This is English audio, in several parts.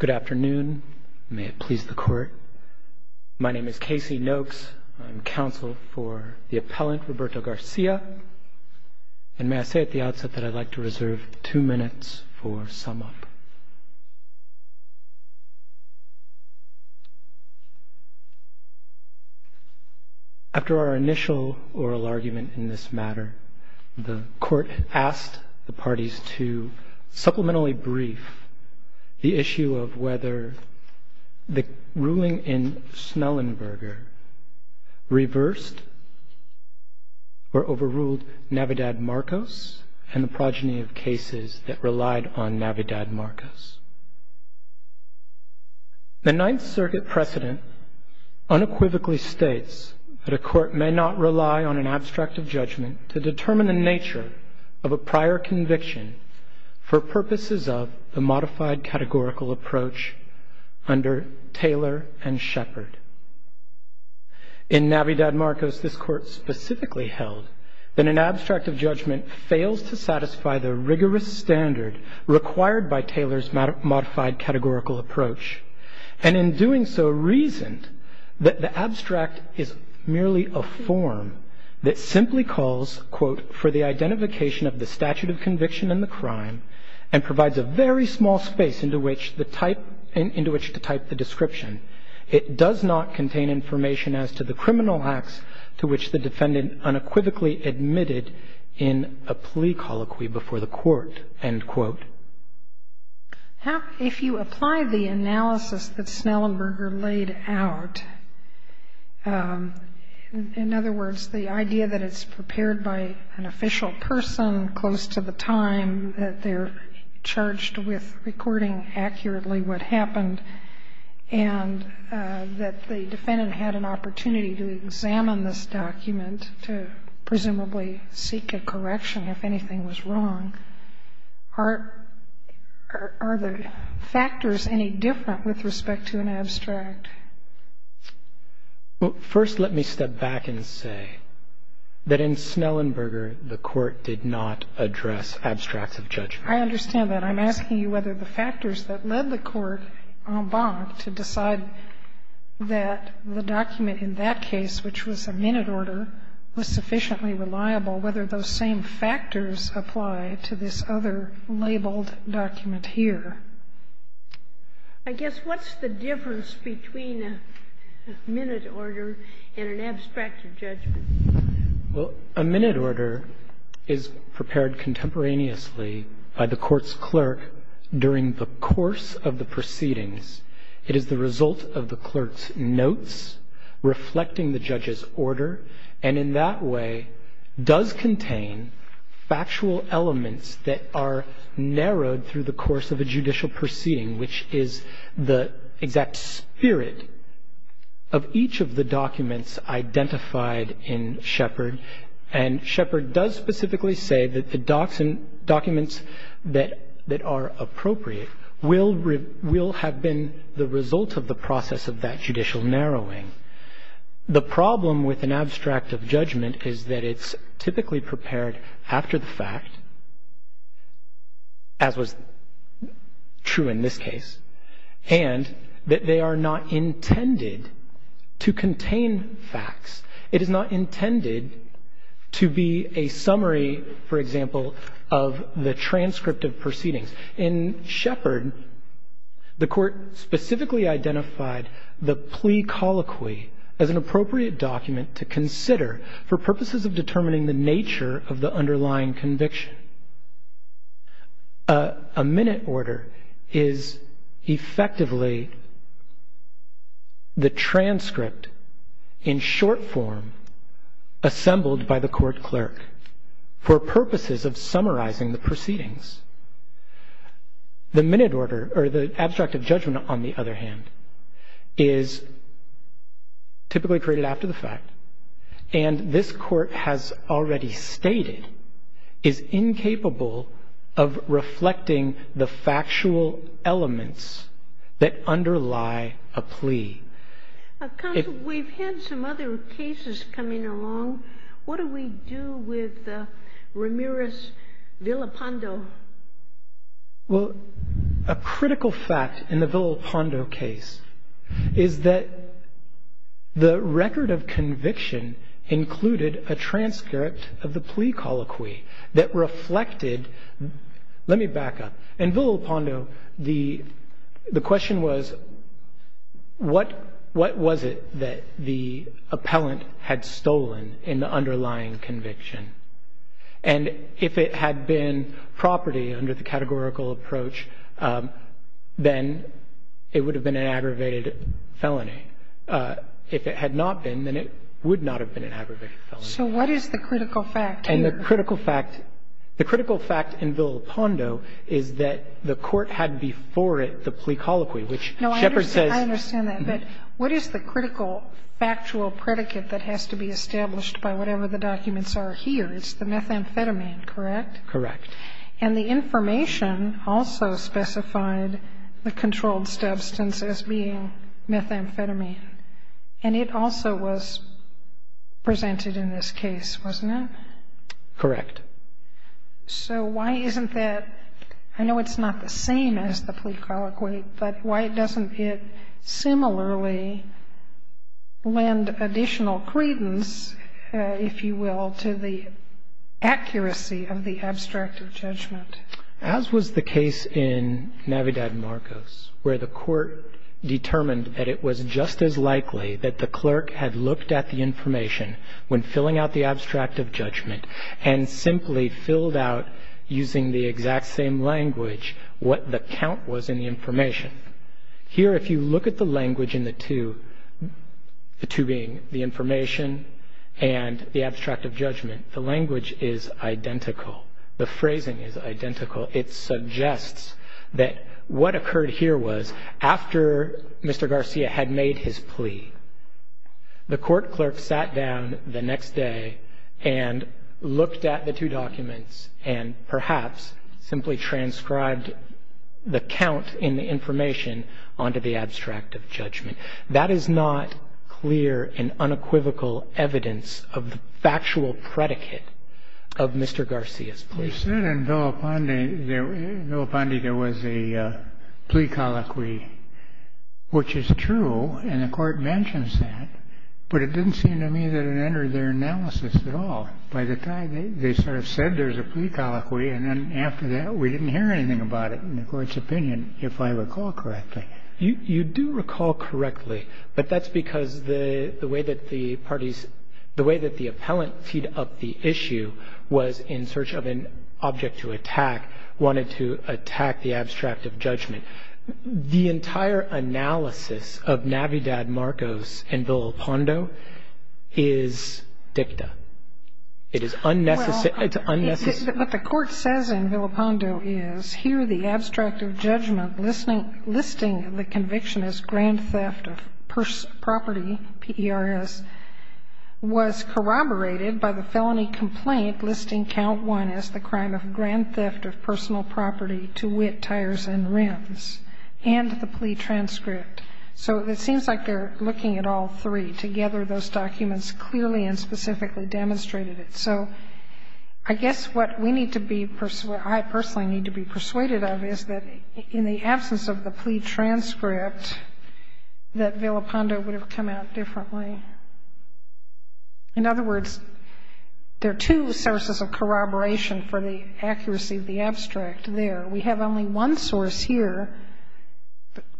Good afternoon. May it please the Court. My name is Casey Noakes. I'm counsel for the appellant Roberto Garcia, and may I say at the outset that I'd like to reserve two minutes for sum-up. After our initial oral argument in this matter, the Court asked the parties to supplementally brief the issue of whether the ruling in Snellenberger reversed or overruled Navidad-Marcos and the progeny of cases that relied on Navidad-Marcos. The Ninth Circuit precedent unequivocally states that a court may not rely on an abstract of judgment to purposes of the modified categorical approach under Taylor and Shepard. In Navidad-Marcos, this Court specifically held that an abstract of judgment fails to satisfy the rigorous standard required by Taylor's modified categorical approach, and in doing so reasoned that the abstract is merely a form that simply calls, quote, for the identification of the statute of conviction in the crime and provides a very small space into which to type the description. It does not contain information as to the criminal acts to which the defendant unequivocally admitted in a plea colloquy before the Court, end quote. How, if you apply the analysis that Snellenberger laid out, in other words, the idea that it's prepared by an official person close to the time that they're charged with recording accurately what happened, and that the defendant had an opportunity to examine this document to presumably seek a correction if anything was wrong, are the factors any different with respect to an abstract? First, let me step back and say that in Snellenberger, the Court did not address abstracts of judgment. I understand that. I'm asking you whether the factors that led the Court en banc to decide that the document in that case, which was a minute order, was sufficiently reliable, whether those same factors apply to this other labeled document here. I guess what's the difference between a minute order and an abstract of judgment? Well, a minute order is prepared contemporaneously by the Court's clerk during the course of the proceedings. It is the result of the clerk's notes reflecting the judge's order, and in that way does contain factual elements that are narrowed through the course of a judicial proceeding, which is the exact spirit of each of the documents identified in Shepard. And Shepard does specifically say that the documents that are appropriate will have been the result of the process of that judicial narrowing. The problem with an abstract of judgment is that it's typically prepared after the truth, true in this case, and that they are not intended to contain facts. It is not intended to be a summary, for example, of the transcript of proceedings. In Shepard, the Court specifically identified the plea colloquy as an appropriate document to consider for purposes of determining the nature of the underlying conviction. A minute order is effectively the transcript in short form assembled by the court clerk for purposes of summarizing the proceedings. The minute order, or the abstract of judgment, on the other hand, is typically created after the fact, and this Court has already stated is incapable of reflecting the factual elements that underlie a plea. Counsel, we've had some other cases coming along. What do we do with Ramirez-Villapando? Well, a critical fact in the Villapando case is that the record of conviction included a transcript of the plea colloquy that reflected, let me back up. In Villapando, the question was, what was it that the appellant had stolen in the case? If it had been a property under the categorical approach, then it would have been an aggravated felony. If it had not been, then it would not have been an aggravated felony. So what is the critical fact here? And the critical fact in Villapando is that the court had before it the plea colloquy, which Shepard says No, I understand that. But what is the critical factual predicate that has to be established by whatever the documents are here? It's the methamphetamine, correct? Correct. And the information also specified the controlled substance as being methamphetamine. And it also was presented in this case, wasn't it? Correct. So why isn't that? I know it's not the same as the plea colloquy, but why doesn't it similarly lend additional credence, if you will, to the accuracy of the abstract of judgment? As was the case in Navidad Marcos, where the court determined that it was just as likely that the clerk had looked at the information when filling out the abstract of judgment and simply filled out using the exact same language what the count was in the information. Here, if you look at the language in the two, the two being the information and the abstract of judgment, the language is identical. The phrasing is identical. It suggests that what occurred here was after Mr. Garcia had made his plea, the court clerk sat down the next day and looked at the two documents and perhaps simply transcribed the count in the information onto the abstract of judgment. That is not clear and unequivocal evidence of the factual predicate of Mr. Garcia's plea. You said in Villa Pondi there was a plea colloquy, which is true, and the court mentions that, but it didn't seem to me that it entered their analysis at all. By the time they sort of said there's a plea colloquy, and then after that we didn't hear anything about it in the court's opinion, if I recall correctly. You do recall correctly, but that's because the way that the parties – the way that the appellant teed up the issue was in search of an object to attack, wanted to attack the abstract of judgment. The entire analysis of Navidad, Marcos, and Villa Pondo is dicta. It is unnecessary – it's unnecessary. What the court says in Villa Pondo is, here the abstract of judgment listing the conviction as grand theft of property, P-E-R-S, was corroborated by the felony complaint listing count 1 as the crime of grand theft of personal property to wit, tires, and rims, and the plea transcript. So it seems like they're looking at all three. Together, those documents clearly and specifically demonstrated it. So I guess what we need to be – I personally need to be persuaded of is that in the absence of the plea transcript, that Villa Pondo would have come out differently. In other words, there are two sources of corroboration for the accuracy of the abstract there. We have only one source here,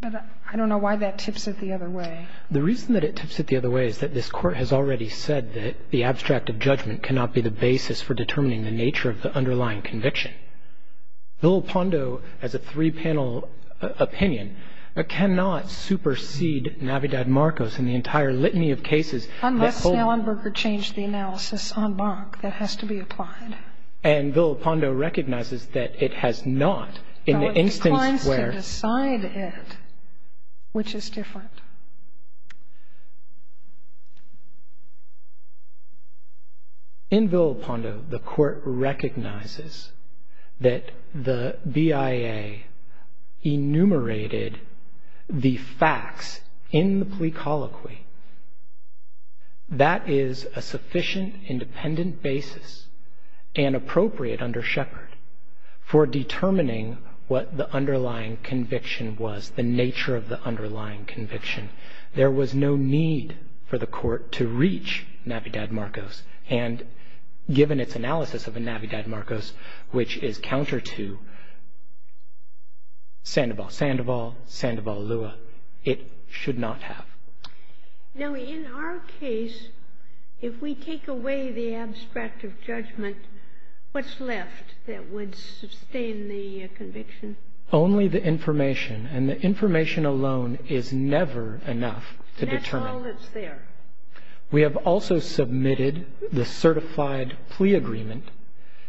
but I don't know why that tips it the other way. The reason that it tips it the other way is that this court has already said that the basis for determining the nature of the underlying conviction. Villa Pondo, as a three-panel opinion, cannot supersede Navidad Marcos in the entire litany of cases that hold – Unless Allenberger changed the analysis en banc. That has to be applied. And Villa Pondo recognizes that it has not in the instance where – It declines to decide it, which is different. In Villa Pondo, the court recognizes that the BIA enumerated the facts in the plea colloquy. That is a sufficient, independent basis and appropriate under Shepard for determining what the underlying conviction was, the nature of the underlying conviction. There was no need for the court to reach Navidad Marcos. And given its analysis of a Navidad Marcos, which is counter to Sandoval-Sandoval, Sandoval-Lewa, it should not have. Now, in our case, if we take away the abstract of judgment, what's left that would sustain the conviction? Only the information. And the information alone is never enough to determine. That's all that's there. We have also submitted the certified plea agreement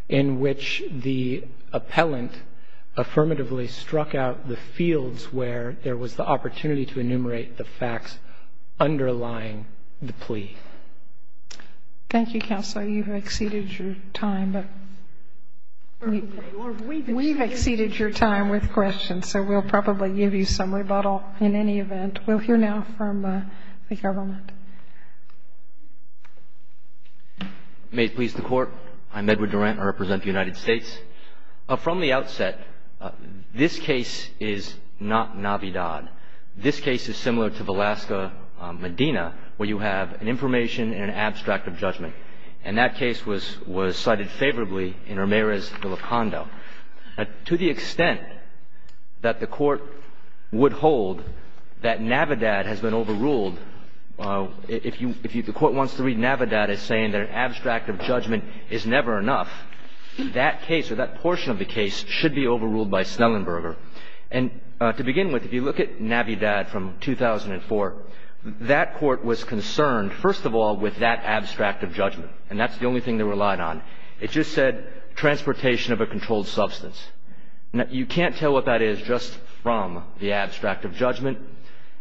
in which the appellant affirmatively struck out the fields where there was the opportunity to enumerate the facts underlying the plea. Thank you, Counselor. You've exceeded your time. But we've exceeded your time with questions. So we'll probably give you some rebuttal in any event. We'll hear now from the government. May it please the Court. I'm Edward Durant. I represent the United States. From the outset, this case is not Navidad. This case is similar to Velasco-Medina, where you have an information and an abstract of judgment. And that case was cited favorably in Ramirez de Locondo. To the extent that the Court would hold that Navidad has been overruled, if the Court wants to read Navidad as saying that an abstract of judgment is never enough, that case or that portion of the case should be overruled by Snellenberger. And to begin with, if you look at Navidad from 2004, that Court was concerned, first of all, with that abstract of judgment. And that's the only thing they relied on. It just said transportation of a controlled substance. You can't tell what that is just from the abstract of judgment.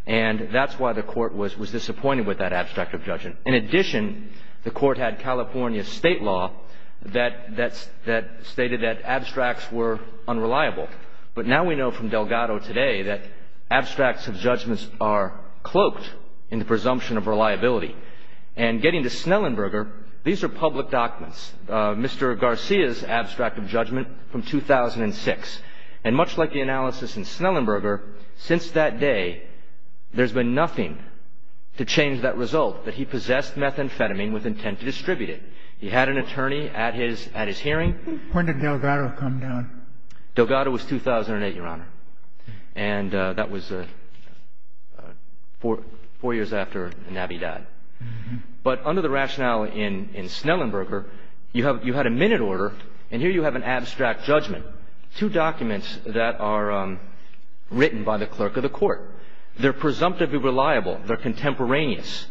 And that's why the Court was disappointed with that abstract of judgment. In addition, the Court had California state law that stated that abstracts were unreliable. But now we know from Delgado today that abstracts of judgments are cloaked in the presumption of reliability. And getting to Snellenberger, these are public documents, Mr. Garcia's abstract of judgment from 2006. And much like the analysis in Snellenberger, since that day, there's been nothing to change that result, that he possessed methamphetamine with intent to distribute it. He had an attorney at his hearing. When did Delgado come down? Delgado was 2008, Your Honor. And that was four years after Navi died. But under the rationale in Snellenberger, you had a minute order. And here you have an abstract judgment, two documents that are written by the clerk of the Court. They're presumptively reliable. They're contemporaneous.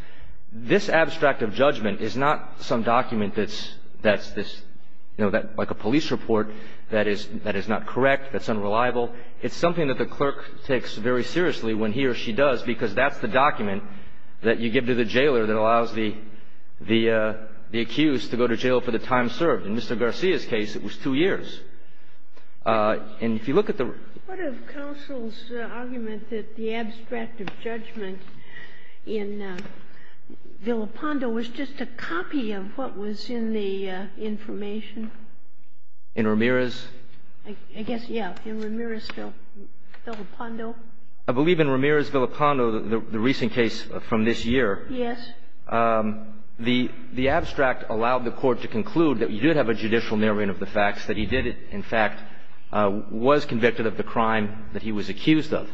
This abstract of judgment is not some document that's like a police report that is not correct, that's unreliable. It's something that the clerk takes very seriously when he or she does, because that's the document that you give to the jailer that allows the accused to go to jail for the time served. In Mr. Garcia's case, it was two years. And if you look at the... What of counsel's argument that the abstract of judgment in Villapando was just a copy of what was in the information? In Ramirez? I guess, yeah. In Ramirez-Villapando. I believe in Ramirez-Villapando, the recent case from this year, the abstract allowed the Court to conclude that you did have a judicial narrowing of the facts, that he did, in fact, was convicted of the crime that he was accused of.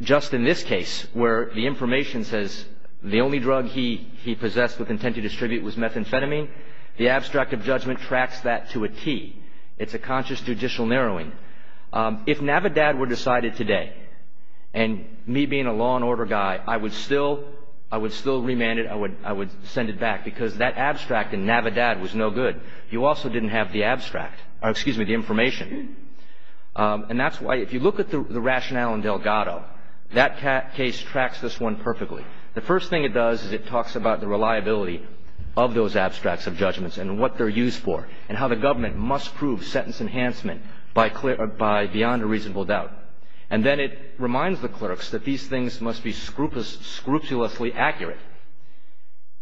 Just in this case, where the information says the only drug he possessed with intent to distribute was methamphetamine, the abstract of judgment tracks that to a T. It's a conscious judicial narrowing. If Navidad were decided today, and me being a law and order guy, I would still remand it, I would send it back, because that abstract in Navidad was no good. You also didn't have the information. And that's why, if you look at the rationale in Delgado, that case tracks this one perfectly. The first thing it does is it talks about the reliability of those abstracts of judgments and what they're used for and how the government must prove sentence enhancement by beyond a reasonable doubt. And then it reminds the clerks that these things must be scrupulously accurate.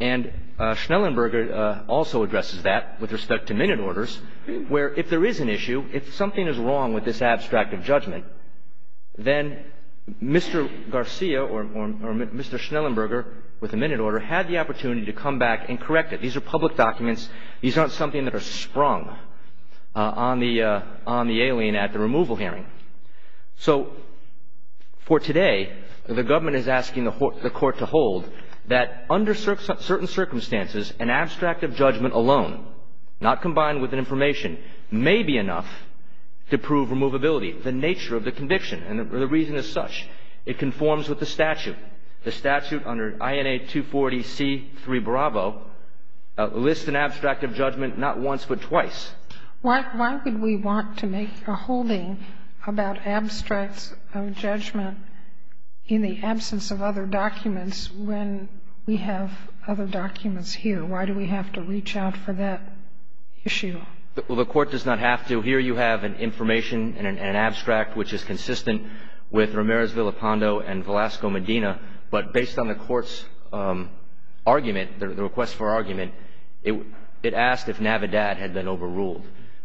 And Schnellenberger also addresses that with respect to minute orders, where if there is an issue, if something is wrong with this abstract of judgment, then Mr. Garcia or Mr. Schnellenberger, with a minute order, had the opportunity to come back and correct it. These are public documents. These aren't something that are sprung on the alien at the removal hearing. So for today, the government is asking the court to hold that under certain circumstances, an abstract of judgment alone, not combined with information, may be enough to prove removability, the nature of the conviction. And the reason is such. It conforms with the statute. The statute under INA 240C3 Bravo lists an abstract of judgment not once but twice. Why would we want to make a holding about abstracts of judgment in the absence of other documents when we have other documents here? Why do we have to reach out for that issue? Well, the court does not have to. Here you have an information, an abstract, which is consistent with Ramirez-Villapando and Velasco-Medina, but based on the court's argument, the request for argument, it asked if Navidad had been overruled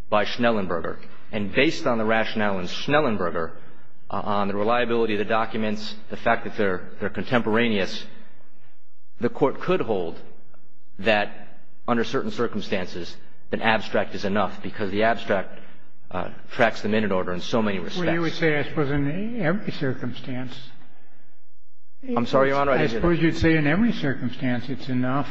by Schnellenberger. And based on the rationale in Schnellenberger, on the reliability of the documents, the fact that they're contemporaneous, the court could hold that under certain circumstances, an abstract is enough because the abstract tracks the minute order in so many respects. Well, you would say, I suppose, in every circumstance. I'm sorry, Your Honor. I suppose you'd say in every circumstance it's enough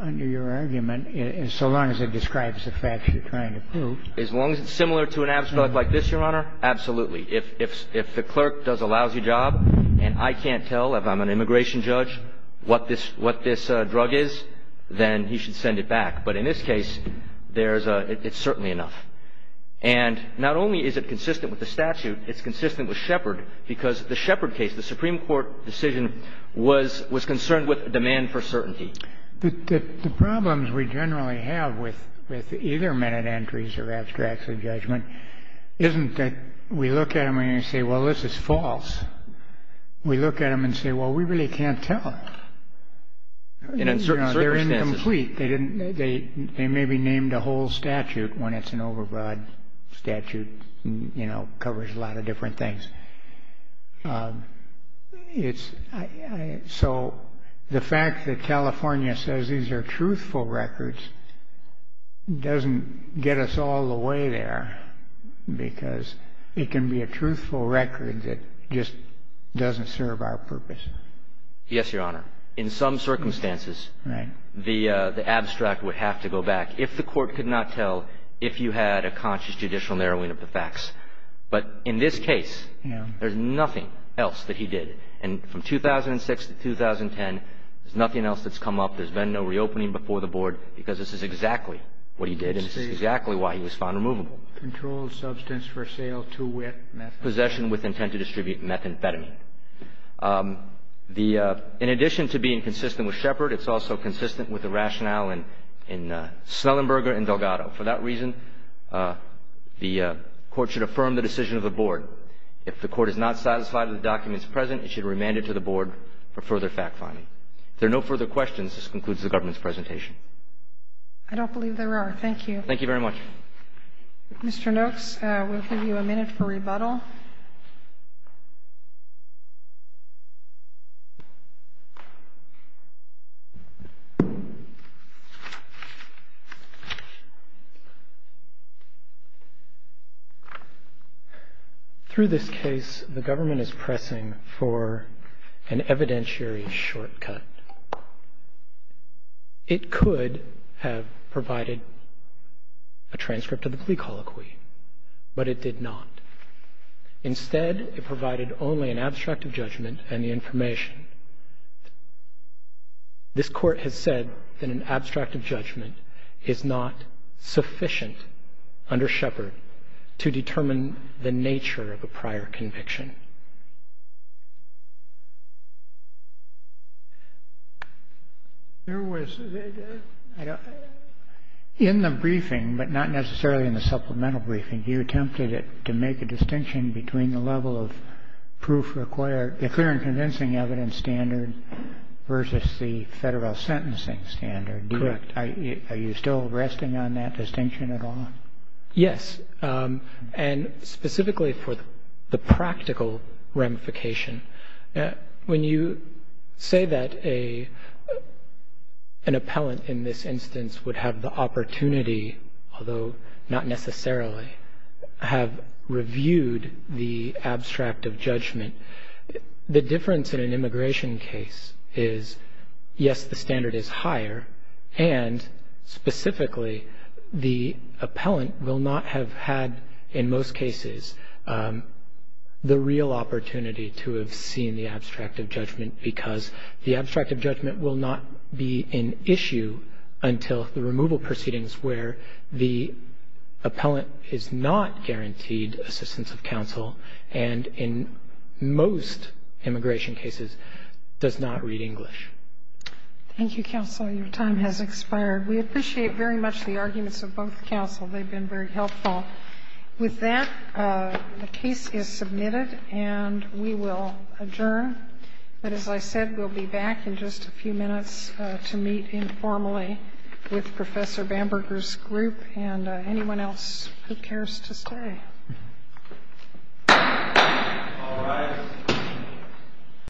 under your argument so long as it describes the facts you're trying to prove. As long as it's similar to an abstract like this, Your Honor, absolutely. If the clerk does a lousy job and I can't tell if I'm an immigration judge what this drug is, then he should send it back. But in this case, it's certainly enough. And not only is it consistent with the statute, it's consistent with Shepard because the Shepard case, the Supreme Court decision, was concerned with demand for certainty. The problems we generally have with either minute entries of abstracts of judgment isn't that we look at them and we say, well, this is false. We look at them and say, well, we really can't tell. In certain circumstances. They're incomplete. They may be named a whole statute when it's an overbroad statute and covers a lot of different things. So the fact that California says these are truthful records doesn't get us all the way there because it can be a truthful record that just doesn't serve our purpose. Yes, Your Honor. In some circumstances, the abstract would have to go back if the court could not tell if you had a conscious judicial narrowing of the facts. But in this case, there's nothing else that he did. And from 2006 to 2010, there's nothing else that's come up. There's been no reopening before the board because this is exactly what he did and this is exactly why he was found removable. Controlled substance for sale to wit. Possession with intent to distribute methamphetamine. In addition to being consistent with Shepard, it's also consistent with the rationale in Snellenberger and Delgado. For that reason, the court should affirm the decision of the board. If the court is not satisfied with the documents present, it should remand it to the board for further fact-finding. If there are no further questions, this concludes the government's presentation. I don't believe there are. Thank you. Thank you very much. Mr. Noakes, we'll give you a minute for rebuttal. Thank you. Through this case, the government is pressing for an evidentiary shortcut. It could have provided a transcript of the plea colloquy, but it did not. Instead, it provided only an abstract of judgment and the information. This court has said that an abstract of judgment is not sufficient under Shepard to determine the nature of a prior conviction. There was, in the briefing, but not necessarily in the supplemental briefing, you attempted to make a distinction between the level of proof required, the clear and convincing evidence standard versus the federal sentencing standard. Correct. Are you still resting on that distinction at all? Yes. And specifically for the practical ramification, when you say that an appellant in this instance would have the opportunity, although not necessarily, have reviewed the abstract of judgment, the difference in an immigration case is, yes, the standard is higher, and specifically, the appellant will not have had, in most cases, the real opportunity to have seen the abstract of judgment because the abstract of judgment will not be an issue until the removal proceedings where the appellant is not guaranteed assistance of counsel and, in most immigration cases, does not read English. Thank you, counsel. Your time has expired. We appreciate very much the arguments of both counsel. They've been very helpful. With that, the case is submitted, and we will adjourn. But as I said, we'll be back in just a few minutes to meet informally with Professor Bamberger's group and anyone else who cares to stay.